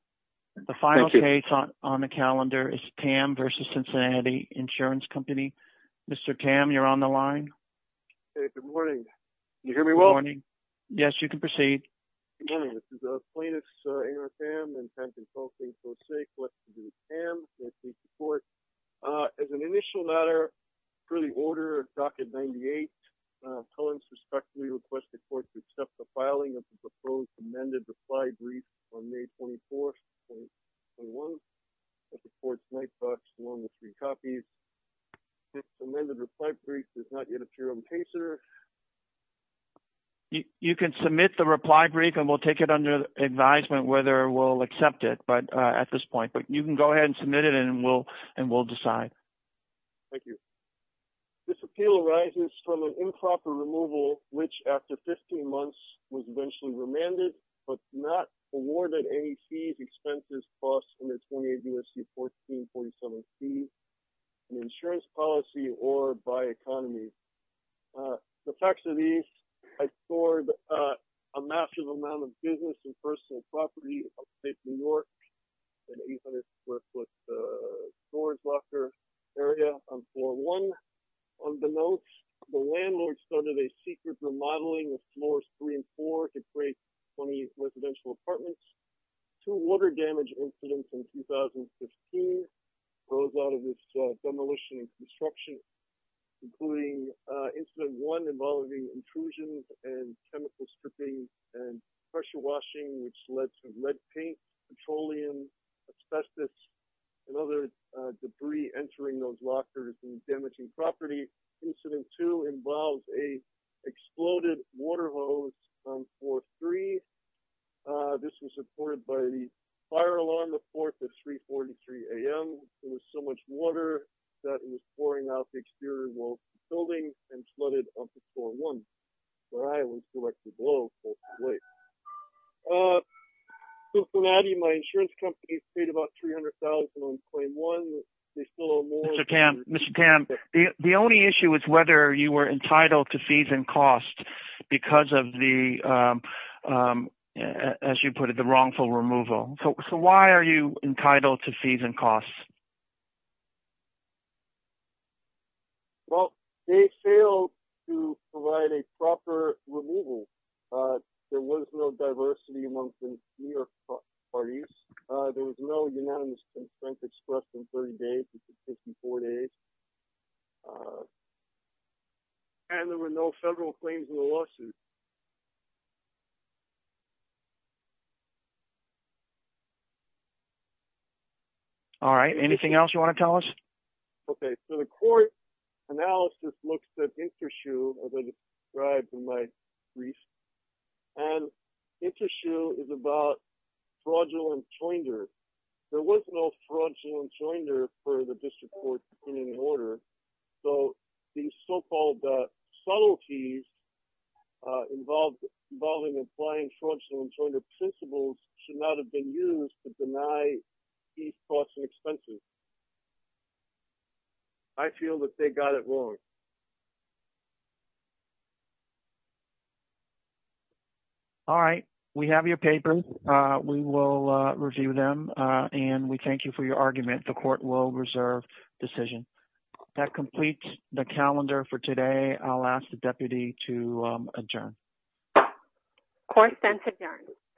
The final case on the calendar is Tamm v. Cincinnati Insurance Company. Mr. Tamm, you're on the line. Hey, good morning. Can you hear me well? Morning. Yes, you can proceed. Good morning. This is plaintiff's Aaron Tamm and Tamm Consulting for the sake of what's to do with Tamm. I thank the court. As an initial matter, per the order of Docket 98, Collins respectfully requests the court to accept the filing of the proposed amended reply brief on May 24, 2021 at the court's night box along with three copies. This amended reply brief does not yet appear on the case order. You can submit the reply brief and we'll take it under advisement whether we'll accept it at this point, but you can go ahead and submit it and we'll decide. Thank you. This appeal arises from an improper removal which, after 15 months, was eventually remanded but not awarded any fees, expenses, costs under 28 U.S.C. 1447c, an insurance policy or by economy. The facts of these, I stored a massive amount of business and personal property upstate New York, an 800 square foot storage locker area on floor one. On the note, the landlord started a secret remodeling of floors three and four to create 20 residential apartments. Two water damage incidents in 2015 arose out of this demolition and construction, including incident one involving intrusions and chemical stripping and pressure washing, which led to lead paint, petroleum, asbestos, and other debris entering those lockers and damaging property. Incident two involves a exploded water hose on floor three. This was supported by the fire alarm the fourth at 343 a.m. There was so much water that it was pouring out the exterior wall of the building and flooded up to floor one, where I was directly below. Cincinnati, my insurance company, paid about $300,000 on claim one. They still owe more. Mr. Tam, the only issue is whether you were entitled to fees and costs because of the, as you put it, the wrongful removal. So why are you entitled to fees and costs? Well, they failed to provide a proper removal. There was no diversity amongst the New York parties. There was no unanimous consent expressed in 30 days, 54 days, and there were no federal claims in the lawsuit. All right. Anything else you want to tell us? Okay. So the court analysis looks at intersue, as I described in my brief, and intersue is about fraudulent joinder. There was no fraudulent joinder for the district court in any order. So these so-called subtleties involving applying fraudulent joinder principles should not have been used to deny fees, costs, and expenses. I feel that they got it wrong. All right. We have your papers. We will review them, and we thank you for your argument. The court will reserve decision. That completes the calendar for today. I'll ask the deputy to adjourn. Court is then adjourned.